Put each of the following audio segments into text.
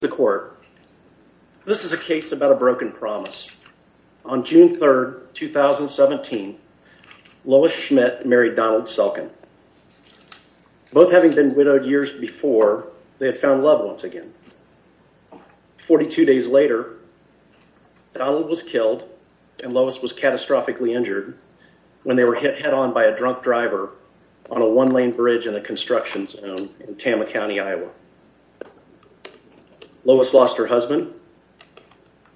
the court. This is a case about a broken promise. On June 3rd, 2017, Lois Schmitt married Donald Selken. Both having been widowed years before, they had found love once again. 42 days later, Donald was killed and Lois was catastrophically injured when they were hit head-on by a drunk driver on a one-lane bridge in a Lois lost her husband,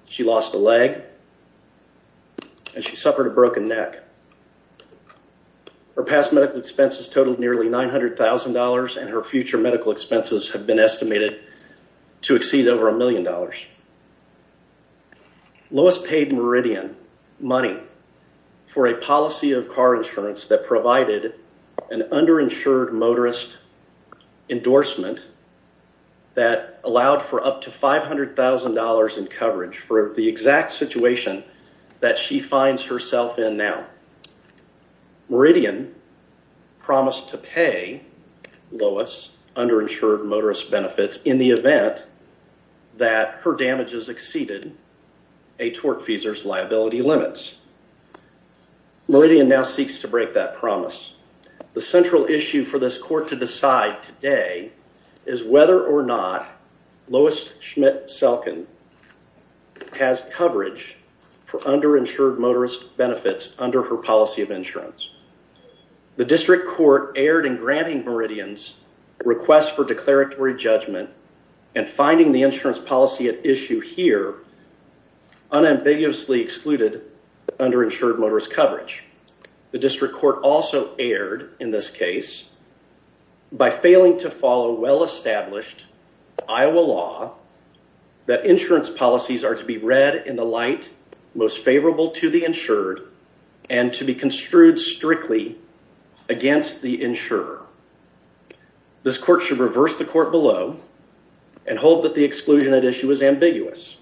she lost a leg, and she suffered a broken neck. Her past medical expenses totaled nearly $900,000 and her future medical expenses have been estimated to exceed over a million dollars. Lois paid Meridian money for a policy of car insurance that provided an underinsured motorist endorsement that allowed for up to $500,000 in coverage for the exact situation that she finds herself in now. Meridian promised to pay Lois underinsured motorist benefits in the event that her damages exceeded a torque feesers liability limits. Meridian now seeks to break that promise. The central issue for this court to decide today is whether or not Lois Schmitt Selken has coverage for underinsured motorist benefits under her policy of insurance. The district court erred in granting Meridian's request for declaratory judgment and finding the insurance policy at issue here unambiguously excluded underinsured motorist coverage. The district court also erred in this case by failing to follow well-established Iowa law that insurance policies are to be read in the light most favorable to the insured and to be construed strictly against the insurer. This court should reverse the court below and hold that the exclusion at issue is ambiguous.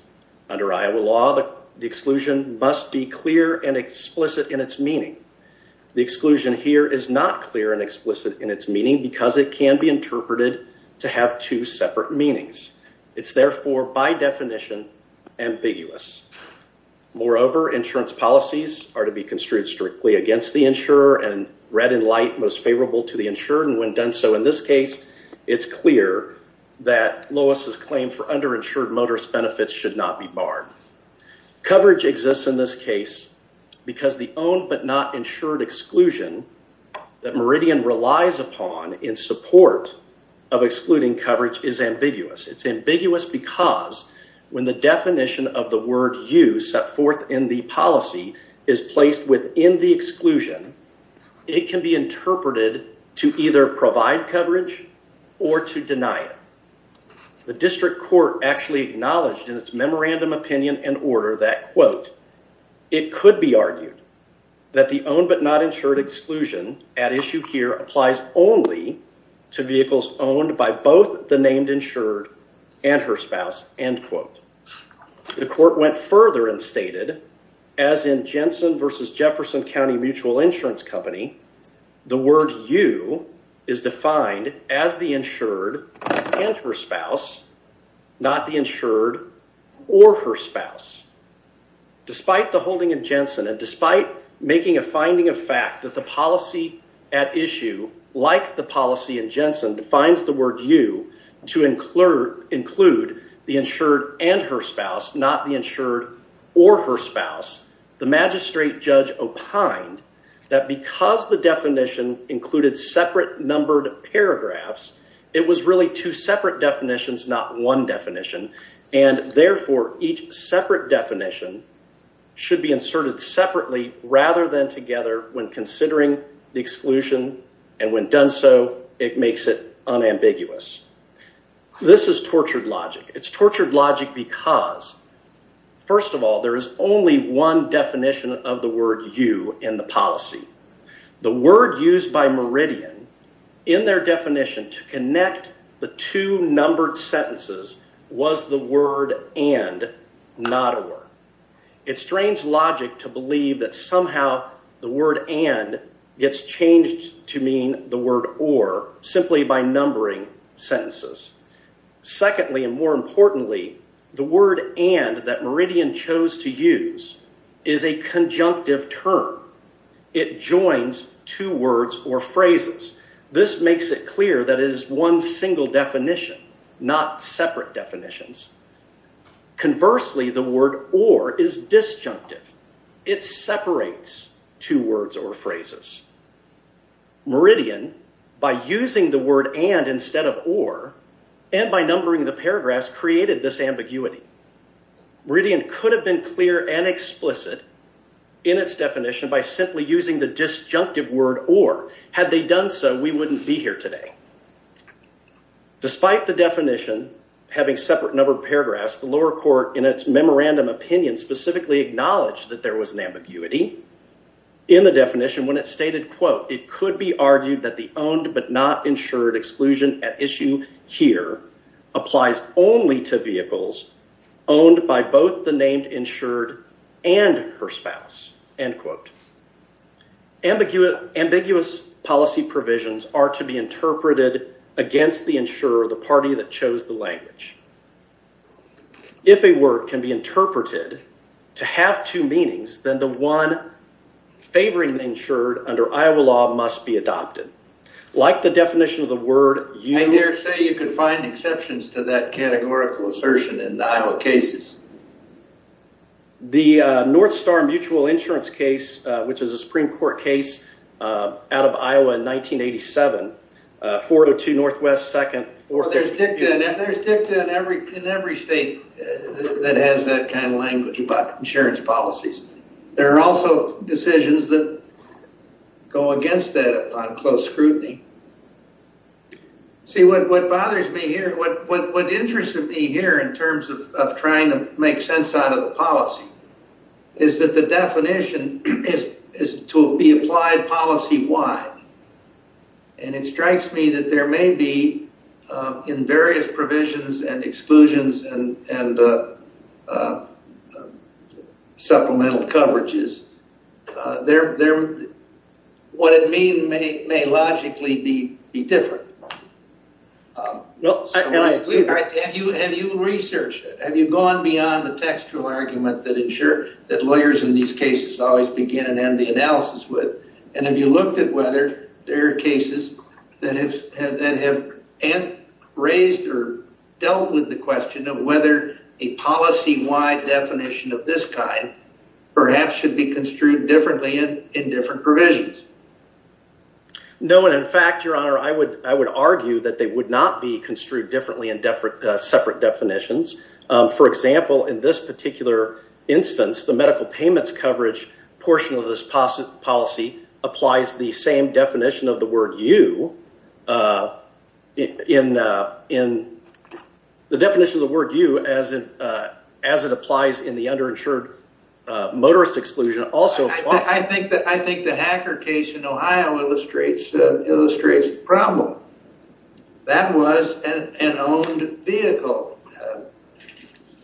Under Iowa law the exclusion must be clear and explicit in its meaning. The exclusion here is not clear and explicit in its meaning because it can be interpreted to have two separate meanings. It's therefore by definition ambiguous. Moreover insurance policies are to be construed strictly against the insurer and read in light most favorable to the insured and when done so in this case it's clear that Lois's claim for underinsured motorist benefits should not be barred. Coverage exists in this case because the own but not insured exclusion that Meridian relies upon in support of excluding coverage is ambiguous. It's ambiguous because when the definition of the word you set forth in the policy is placed within the exclusion it can be interpreted to either provide coverage or to deny it. The district court actually acknowledged in its memorandum opinion and order that quote it could be argued that the own but not insured exclusion at issue here applies only to vehicles owned by both the named insured and her spouse end quote. The court went further and stated as in Jensen versus Jefferson County Mutual Insurance Company the word you is defined as the insured and her spouse not the insured or her spouse. Despite the holding in Jensen and despite making a finding of fact that the policy at issue like the policy in Jensen defines the word you to include the insured and her spouse not the insured or her spouse the magistrate judge opined that because the definition included separate numbered paragraphs it was really two separate definitions not one definition and therefore each separate definition should be inserted separately rather than together when considering the exclusion and when done so it makes it unambiguous. This is tortured logic. It's First of all there is only one definition of the word you in the policy. The word used by Meridian in their definition to connect the two numbered sentences was the word and not a word. It's strange logic to believe that somehow the word and gets changed to mean the word or simply by numbering sentences. Secondly and more importantly the word and that Meridian chose to use is a conjunctive term. It joins two words or phrases. This makes it clear that is one single definition not separate definitions. Conversely the word or is disjunctive. It separates two words or phrases. Meridian by using the word and instead of or and by numbering the paragraphs created this ambiguity. Meridian could have been clear and explicit in its definition by simply using the disjunctive word or. Had they done so we wouldn't be here today. Despite the definition having separate numbered paragraphs the lower court in its memorandum opinion specifically acknowledged that there was an ambiguity in the definition when it stated quote it could be argued that the owned but not insured exclusion at issue here applies only to vehicles owned by both the named insured and her spouse end quote. Ambiguous policy provisions are to be interpreted against the insurer the party that chose the language. If a word can be interpreted to have two meanings then the one favoring insured under Iowa law must be adopted. Like the definition of the word I dare say you can find exceptions to that categorical assertion in Iowa cases. The North Star mutual insurance case which is a Supreme Court case out of Iowa in 1987 402 Northwest 2nd. There's dicta in every state that has that kind of go against that on close scrutiny. See what bothers me here what what interests of me here in terms of trying to make sense out of the policy is that the definition is to be applied policy-wide and it strikes me that there may be in various provisions and exclusions and supplemental coverages there there what it mean may may logically be be different. Have you researched it? Have you gone beyond the textual argument that insure that lawyers in these cases always begin and end the analysis with and have you looked at whether there are cases that have and raised or dealt with the question of whether a policy-wide definition of this kind perhaps should be construed differently in different provisions? No and in fact your honor I would I would argue that they would not be construed differently in separate definitions. For example in this particular instance the medical payments coverage portion of this policy applies the same definition of the word you in in the definition of the word you as it as it applies in the underinsured motorist exclusion also. I think that I think the hacker case in Ohio illustrates illustrates the problem. That was an owned vehicle.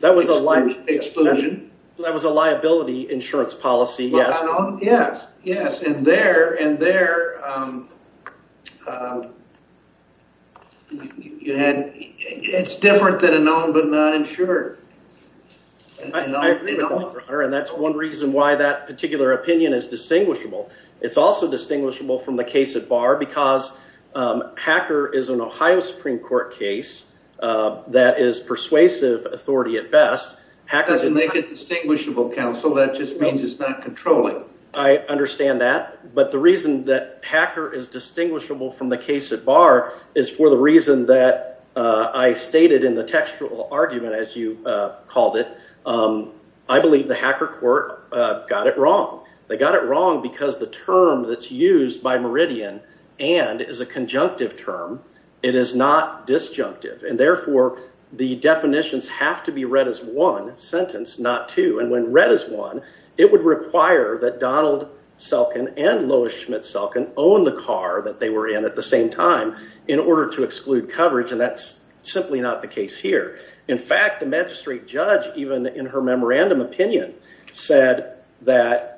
That was a life exclusion that was a liability insurance policy yes yes yes and there and there you had it's different than a known but not insured. That's one reason why that particular opinion is distinguishable. It's also distinguishable from the case at bar because hacker is an Ohio Supreme Court case that is persuasive authority at best. Doesn't make it distinguishable counsel that just means it's not controlling. I understand that but the reason that hacker is distinguishable from the case at bar is for the reason that I stated in the textual argument as you called it. I believe the hacker court got it wrong. They got it wrong because the term that's used by Meridian and is a conjunctive term it is not disjunctive and therefore the definitions have to be one sentence not two and when read as one it would require that Donald Selkin and Lois Schmidt Selkin own the car that they were in at the same time in order to exclude coverage and that's simply not the case here. In fact the magistrate judge even in her memorandum opinion said that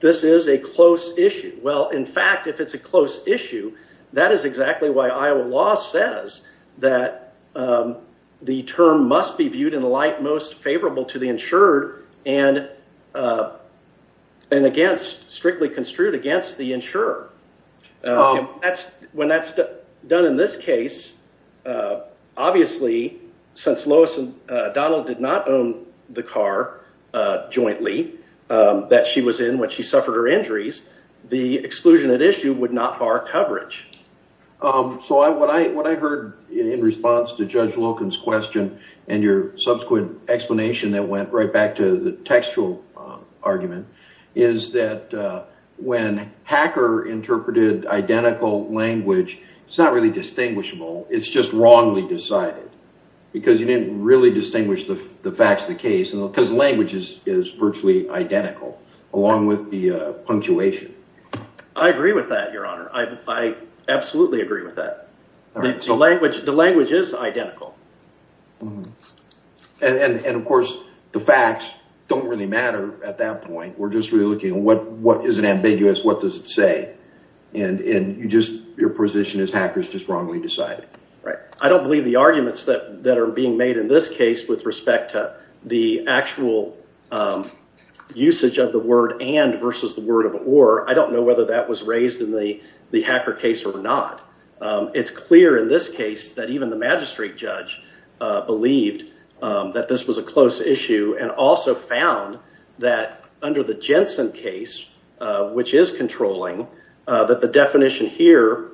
this is a close issue. Well in fact if it's a close issue that is exactly why Iowa law says that the term must be viewed in the light most favorable to the insured and against strictly construed against the insurer. That's when that's done in this case obviously since Lois and Donald did not own the car jointly that she was in when she suffered her injuries the exclusion at issue would not bar coverage. So I what I what I heard in response to Judge Loken's question and your subsequent explanation that went right back to the textual argument is that when hacker interpreted identical language it's not really distinguishable it's just wrongly decided because you didn't really distinguish the facts of the case and because languages is virtually identical along with the punctuation. I agree with that your honor I absolutely agree with that. The language the language is identical. And of course the facts don't really matter at that point we're just really looking at what what is it ambiguous what does it say and and you just your position is hackers just wrongly decided. Right I don't believe the arguments that that are being made in this case with respect to the actual usage of the word and versus the word of or I don't know whether that was raised in the the hacker case or not. It's clear in this case that even the magistrate judge believed that this was a close issue and also found that under the Jensen case which is controlling that the definition here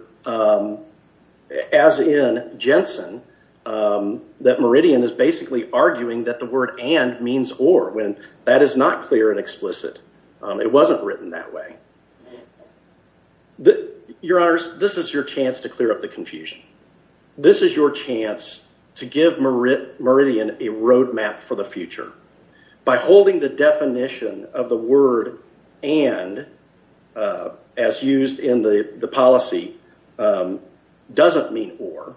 as in Jensen that Meridian is basically arguing that the word and means or when that is not clear and explicit it wasn't written that way. The your honors this is your chance to clear up the confusion this is your chance to give Meridian a roadmap for the future by holding the definition of the word and as used in the the policy doesn't mean or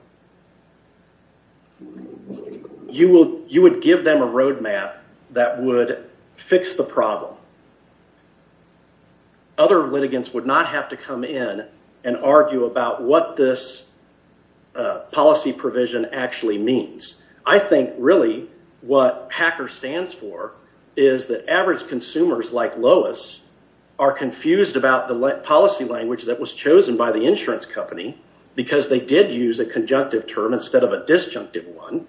you will you would give them a roadmap that would fix the problem. Other litigants would not have to come in and argue about what this policy provision actually means. I think really what hacker stands for is that average consumers like Lois are confused about the policy language that was chosen by the insurance company because they did use a conjunctive term instead of a disjunctive one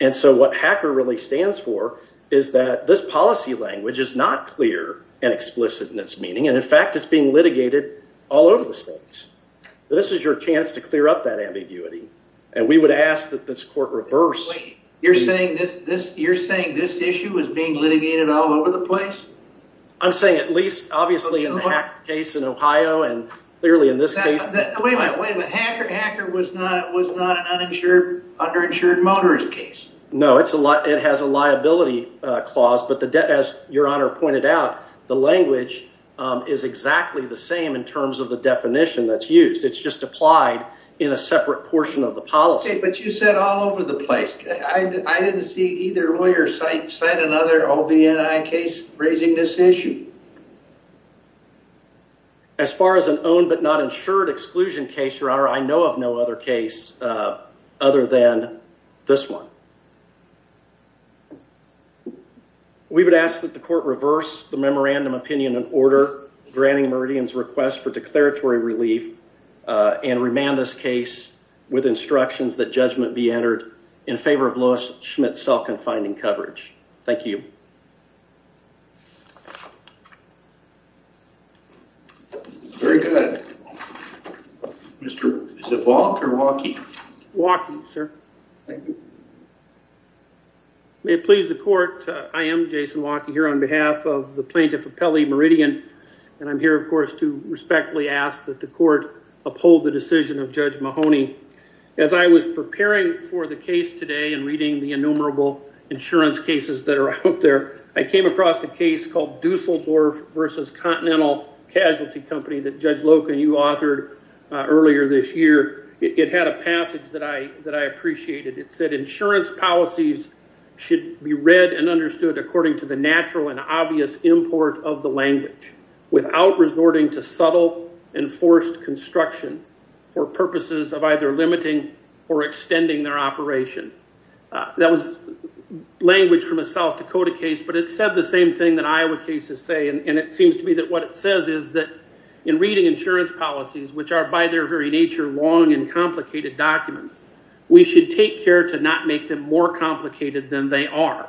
and so what hacker really stands for is that this policy language is not clear and explicit in its meaning and in fact it's being litigated all over the states. This is your chance to clear up that ambiguity and we would ask that this court reverse. You're saying this this you're saying this issue is being litigated all over the place? I'm saying at least obviously in the Hacker case in Ohio and clearly in this case. Wait a minute, but hacker hacker was not it was not an uninsured underinsured motorist case. No it's a lot it has a liability clause but the debt as your honor pointed out the language is exactly the same in terms of the definition that's used. It's just applied in a separate portion of the policy. But you said all over the place. I didn't see either lawyer cite cite another OB&I case raising this issue. As far as an own but not insured exclusion case your honor I know of no other case other than this one. We would ask that the court reverse the memorandum opinion and order granting Meridian's request for declaratory relief and remand this case with instructions that judgment be entered in favor of Lois Waukee. May it please the court I am Jason Waukee here on behalf of the plaintiff of Pele Meridian and I'm here of course to respectfully ask that the court uphold the decision of Judge Mahoney. As I was preparing for the case today and reading the innumerable insurance cases that are out there I came across the case called Dusseldorf versus Continental Casualty Company that it had a passage that I that I appreciated. It said insurance policies should be read and understood according to the natural and obvious import of the language without resorting to subtle and forced construction for purposes of either limiting or extending their operation. That was language from a South Dakota case but it said the same thing that Iowa cases say and it seems to be that what it says is that in reading insurance policies which are by their very nature long and complicated documents we should take care to not make them more complicated than they are.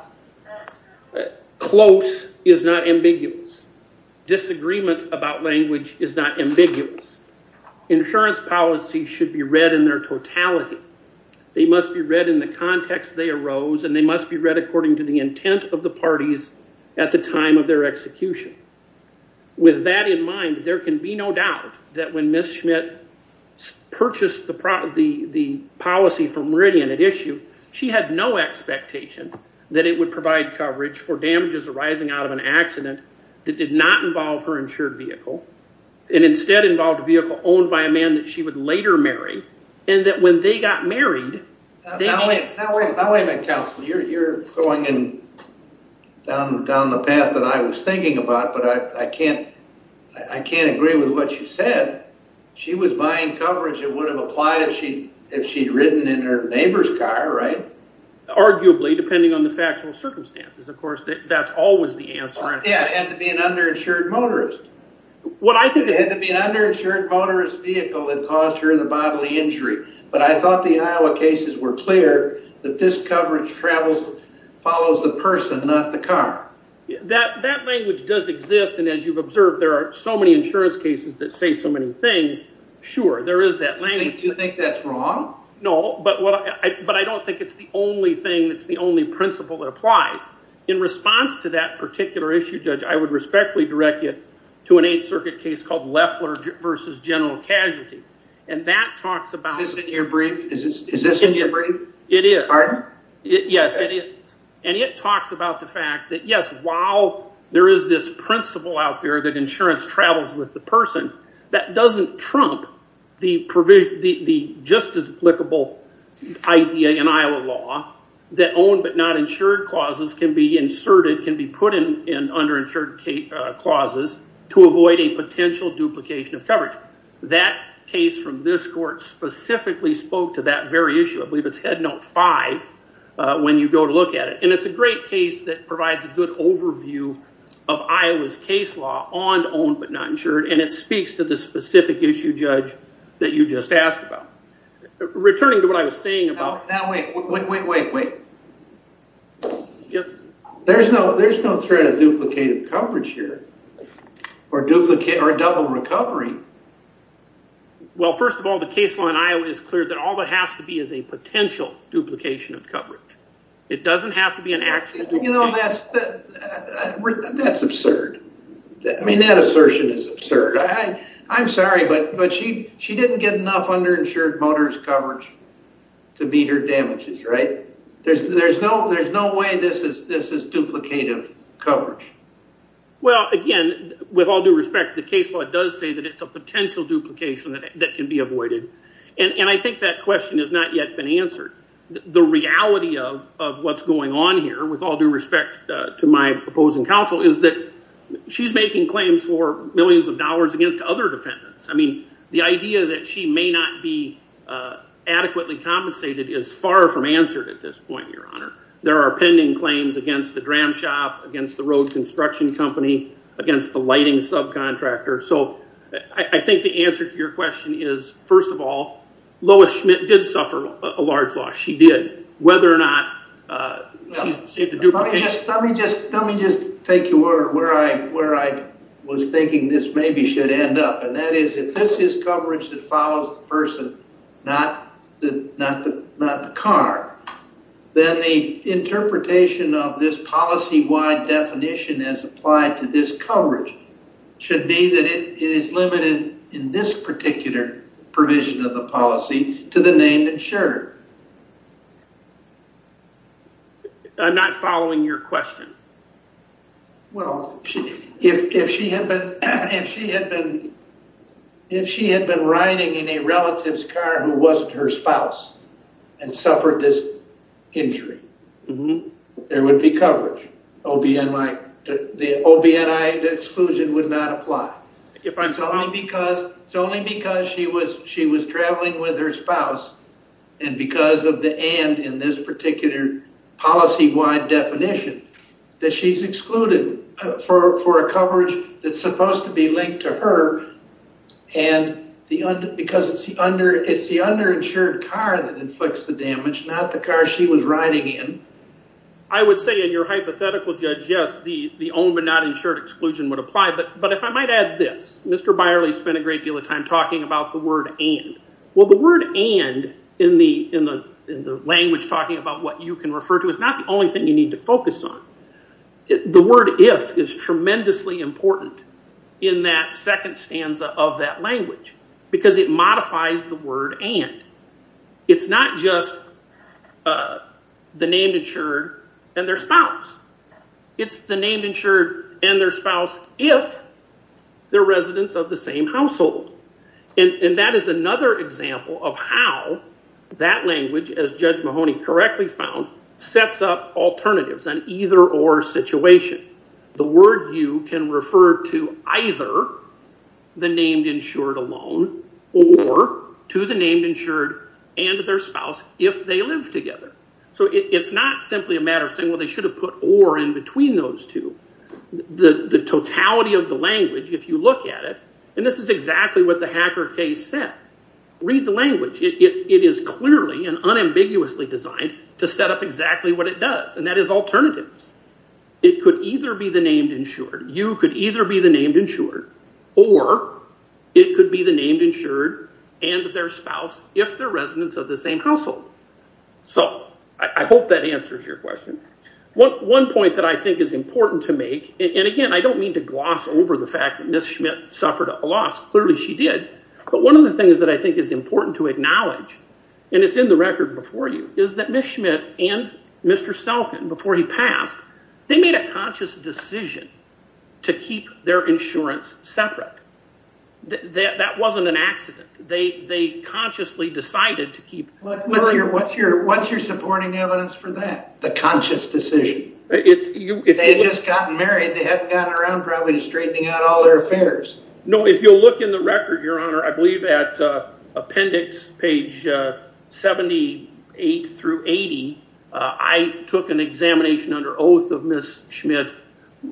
Close is not ambiguous. Disagreement about language is not ambiguous. Insurance policies should be read in their totality. They must be read in the context they arose and they must be read according to the intent of the parties at the time of their execution. With that in mind there can be no doubt that when Ms. Schmidt purchased the policy from Meridian at issue she had no expectation that it would provide coverage for damages arising out of an accident that did not involve her insured vehicle and instead involved a vehicle owned by a man that she would later marry and that when they got married... Now wait a minute counsel, you're going down the path that I was thinking about but I can't I can't agree with what you said. She was buying coverage it would have applied if she if she'd ridden in her neighbor's car right? Arguably depending on the factual circumstances of course that's always the answer. Yeah it had to be an underinsured motorist. What I think is... It had to be an underinsured motorist vehicle that caused her the bodily injury but I thought the Iowa cases were clear that this coverage follows the person not the car. That language does exist and as you've observed there are so many insurance cases that say so many things sure there is that language. Do you think that's wrong? No but what I but I don't think it's the only thing that's the only principle that applies. In response to that particular issue judge I would respectfully direct you to an Eighth Circuit case called Leffler versus General Casualty and that talks about... It is and it talks about the fact that yes while there is this principle out there that insurance travels with the person that doesn't trump the provision the just as applicable idea in Iowa law that own but not insured clauses can be inserted can be put in underinsured clauses to avoid a potential duplication of coverage. That case from this court specifically spoke to that very issue. I believe it's headnote 5 when you go to look at it and it's a great case that provides a good overview of Iowa's case law on owned but not insured and it speaks to the specific issue judge that you just asked about. Returning to what I was saying about... Now wait wait wait wait wait. There's no there's no threat of duplicated coverage here or duplicate or double recovery. Well first of all the case law in Iowa is clear that all that has to be is a potential duplication of coverage. It doesn't have to be an actual... You know that's that's absurd. I mean that assertion is absurd. I'm sorry but but she she didn't get enough underinsured motorist coverage to beat her damages right? There's there's no there's no way this is this is duplicative coverage. Well again with all due respect the case law does say that it's a potential duplication that can be avoided and and I think that question has not yet been answered. The reality of what's going on here with all due respect to my opposing counsel is that she's making claims for millions of dollars against other defendants. I mean the idea that she may not be adequately compensated is far from answered at this point your honor. There are pending claims against the dram shop, against the road construction company, against the lighting subcontractor. So I think the answer to your question is first of all Lois Schmidt did suffer a large loss. She did. Whether or not... Let me just take you where I was thinking this maybe should end up and that is if this is coverage that follows the person, not the car, then the interpretation of this policy-wide definition as provision of the policy to the name insured. I'm not following your question. Well if she had been riding in a relative's car who wasn't her spouse and suffered this injury, there would be coverage. The OB&I exclusion would not apply. It's only because she was traveling with her spouse and because of the and in this particular policy-wide definition that she's excluded for a coverage that's supposed to be linked to her and because it's the under-insured car that inflicts the damage, not the car she was riding in. I would say in your hypothetical judge, yes, the OB&I exclusion would apply. But if I might add this, Mr. Byerly spent a great deal of time talking about the word and. Well the word and in the language talking about what you can refer to is not the only thing you need to focus on. The word if is tremendously important in that second stanza of that language because it modifies the word and. It's not just the named insured and their spouse. It's the named insured and their spouse if they're residents of the same household. And that is another example of how that language, as Judge Mahoney correctly found, sets up alternatives on either or situation. The word you can refer to either the named insured and their spouse if they live together. So it's not simply a matter of saying well they should have put or in between those two. The totality of the language, if you look at it, and this is exactly what the Hacker case said, read the language. It is clearly and unambiguously designed to set up exactly what it does and that is alternatives. It could either be the named insured, you could either be the named insured, or it could be the named insured and their spouse if they're residents of the same household. So I hope that answers your question. One point that I think is important to make, and again I don't mean to gloss over the fact that Ms. Schmidt suffered a loss. Clearly she did. But one of the things that I think is important to acknowledge, and it's in the record before you, is that Ms. Schmidt and Mr. Selkin, before he passed, they made a conscious decision to keep their insurance separate. That wasn't an accident. They consciously decided to keep it separate. What's your supporting evidence for that? The conscious decision. If they had just gotten married, they hadn't gotten around to straightening out all their affairs. No, if you'll look in the record, your honor, I believe at appendix page 78 through 80, I took an examination under oath of Ms. Schmidt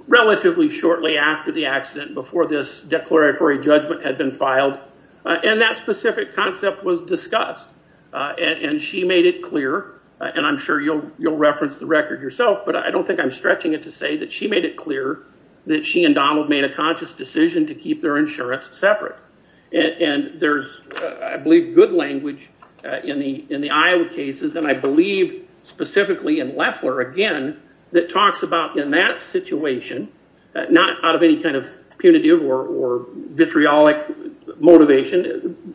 relatively shortly after the accident, before this declaratory judgment had been filed. And that specific concept was discussed. And she made it clear, and I'm sure you'll reference the record yourself, but I don't think I'm stretching it to say that she made it clear that she and Donald made a conscious decision to keep their insurance separate. And there's, I believe, good language in the Iowa cases, and I believe specifically in Leffler again, that talks about in that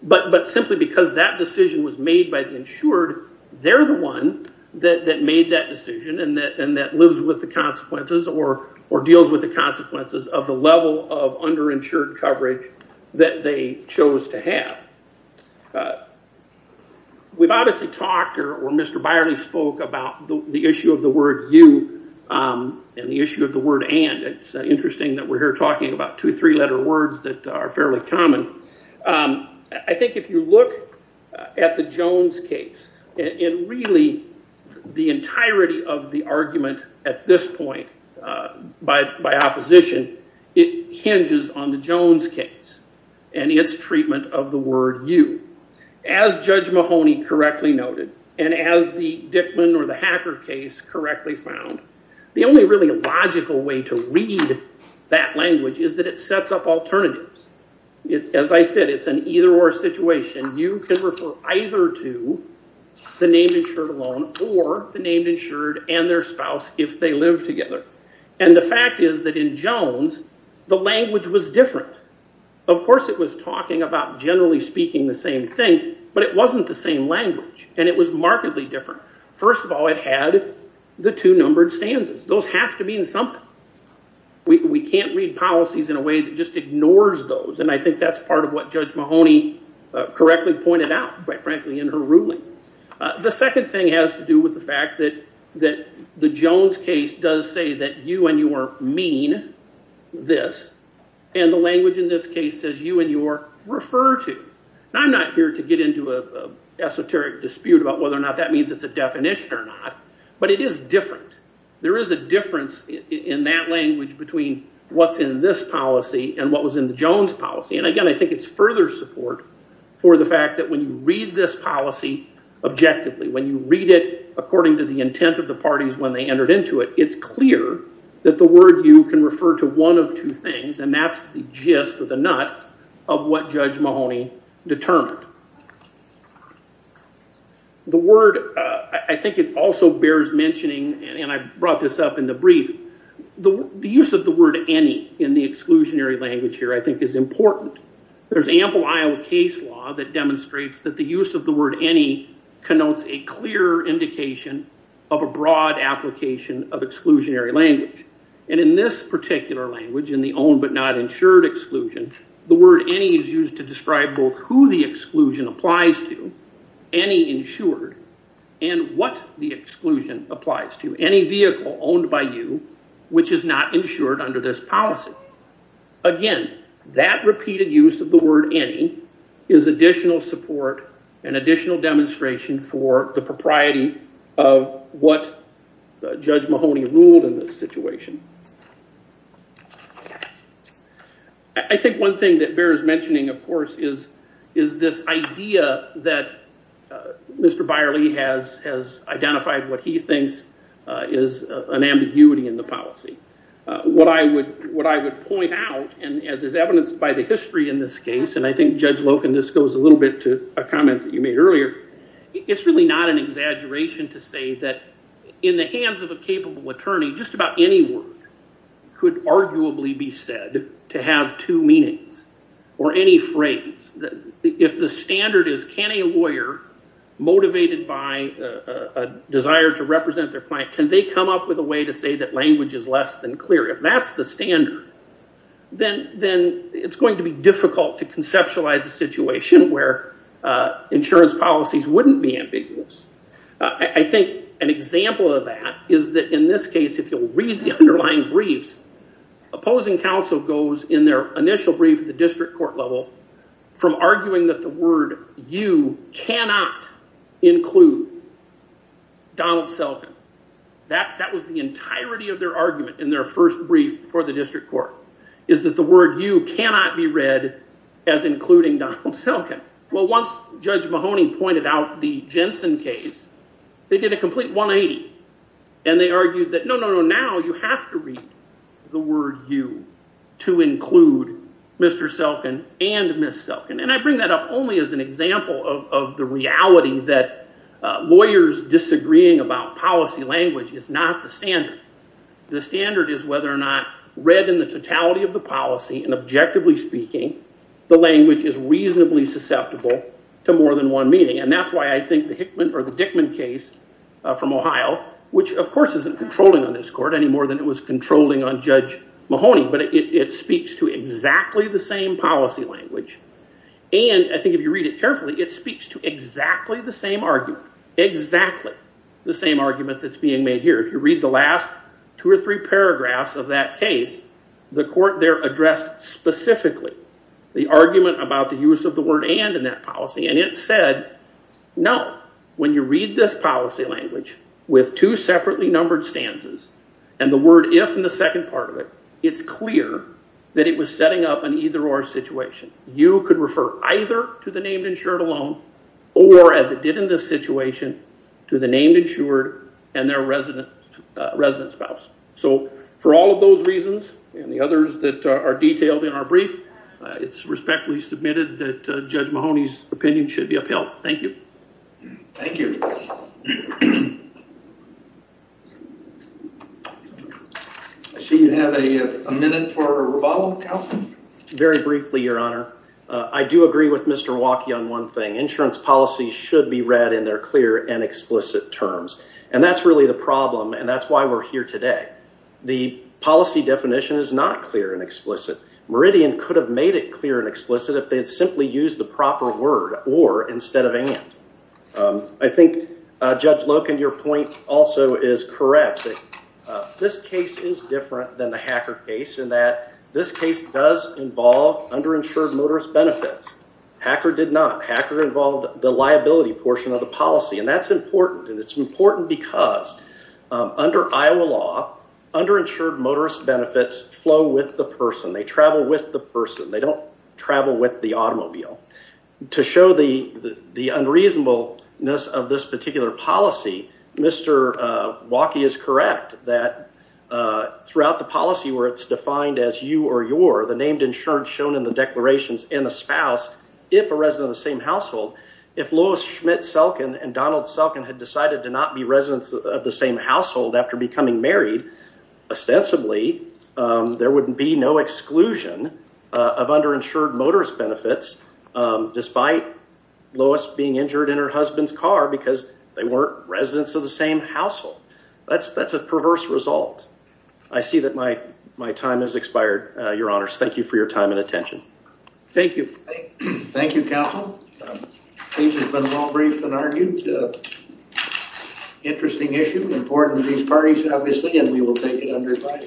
but simply because that decision was made by the insured, they're the one that made that decision and that lives with the consequences or deals with the consequences of the level of underinsured coverage that they chose to have. We've obviously talked, or Mr. Byerly spoke, about the issue of the word you and the issue of the word and. It's interesting that we're here about two, three letter words that are fairly common. I think if you look at the Jones case, it really, the entirety of the argument at this point by opposition, it hinges on the Jones case and its treatment of the word you. As Judge Mahoney correctly noted, and as the Dickman or the Hacker case correctly found, the only really logical way to read that language is that it sets up alternatives. It's, as I said, it's an either-or situation. You can refer either to the name insured alone or the name insured and their spouse if they live together. And the fact is that in Jones, the language was different. Of course it was talking about generally speaking the same thing, but it wasn't the same language, and it was markedly different. First of all, it had the two numbered stanzas. Those have to mean something. We can't read policies in a way that just ignores those, and I think that's part of what Judge Mahoney correctly pointed out, quite frankly, in her ruling. The second thing has to do with the fact that the Jones case does say that you and your mean this, and the language in this case says you and your refer to. I'm not here to get into an esoteric dispute about whether or not that means it's a definition or not, but it is different. There is a difference in that language between what's in this policy and what was in the Jones policy, and again I think it's further support for the fact that when you read this policy objectively, when you read it according to the intent of the parties when they entered into it, it's clear that the word you can refer to one of two things, and that's the gist or the nut of what Judge Mahoney determined. The word, I think it also bears mentioning, and I brought this up in the brief, the use of the word any in the exclusionary language here I think is important. There's ample Iowa case law that demonstrates that the use of the word any connotes a clear indication of a particular language in the own but not insured exclusion. The word any is used to describe both who the exclusion applies to, any insured, and what the exclusion applies to, any vehicle owned by you which is not insured under this policy. Again, that repeated use of the word any is additional support and additional demonstration for the propriety of what Judge Mahoney ruled in this situation. I think one thing that bears mentioning, of course, is this idea that Mr. Byerly has identified what he thinks is an ambiguity in the policy. What I would point out, and as is evidenced by the history in this case, and I think Judge Loken, this goes a little bit to a comment that you made earlier, it's really not an exaggeration to say that in the hands of a capable attorney just about any word could arguably be said to have two meanings or any phrase. If the standard is can a lawyer motivated by a desire to represent their client, can they come up with a way to say that language is less than clear? If that's the standard, then it's going to be difficult to conceptualize a situation where insurance policies wouldn't be ambiguous. I think an example of that is that in this case, if you'll read the underlying briefs, opposing counsel goes in their initial brief at the district court level from arguing that the word you cannot include Donald Selkin. That was the entirety of their argument in their first brief before the district court, is that the word you cannot be read as including Donald Selkin. Well, once Judge Mahoney pointed out the Jensen case, they did a complete 180, and they argued that no, no, no, now you have to read the word you to include Mr. Selkin and Ms. Selkin, and I bring that up only as an example of the reality that lawyers disagreeing about policy language is not the standard. The standard is whether or not read in the totality of the policy and objectively speaking, the language is reasonably susceptible to more than one meaning, and that's why I think the Hickman or the Dickman case from Ohio, which of course isn't controlling on this court any more than it was controlling on Judge Mahoney, but it speaks to exactly the same policy language, and I think if you read it carefully, it speaks to exactly the same argument, exactly the same argument that's being made here. If you read the last two or three cases, you can see the argument about the use of the word and in that policy, and it said, no, when you read this policy language with two separately numbered stanzas and the word if in the second part of it, it's clear that it was setting up an either or situation. You could refer either to the named insured alone or, as it did in this situation, to the named insured and their resident spouse. So for all of those reasons and the others that are detailed in our brief, it's respectfully submitted that Judge Mahoney's opinion should be upheld. Thank you. Thank you. I see you have a minute for rebuttal. Very briefly, Your Honor. I do agree with Mr. Waukee on one thing. Insurance policies should be read in their clear and explicit terms, and that's really the problem, and that's why we're here today. The policy definition is not clear and could have made it clear and explicit if they had simply used the proper word or instead of and. I think Judge Loken, your point also is correct. This case is different than the Hacker case in that this case does involve underinsured motorist benefits. Hacker did not. Hacker involved the liability portion of the policy, and that's important, and it's important because under Iowa law, underinsured motorist benefits flow with the person. They travel with the person. They don't travel with the automobile. To show the the unreasonableness of this particular policy, Mr. Waukee is correct that throughout the policy where it's defined as you or your, the named insurance shown in the declarations and the spouse, if a resident of the same household, if Lois Schmidt Selkin and Donald Selkin had decided to not be residents of the same household after becoming married, ostensibly there wouldn't be no exclusion of underinsured motorist benefits despite Lois being injured in her husband's car because they weren't residents of the same household. That's a perverse result. I see that my my time has expired, your honors. Thank you for your time and attention. Thank you. Thank you, counsel. The case has been well-briefed and argued. Interesting issue, important to these parties, obviously, and we will take it under fire.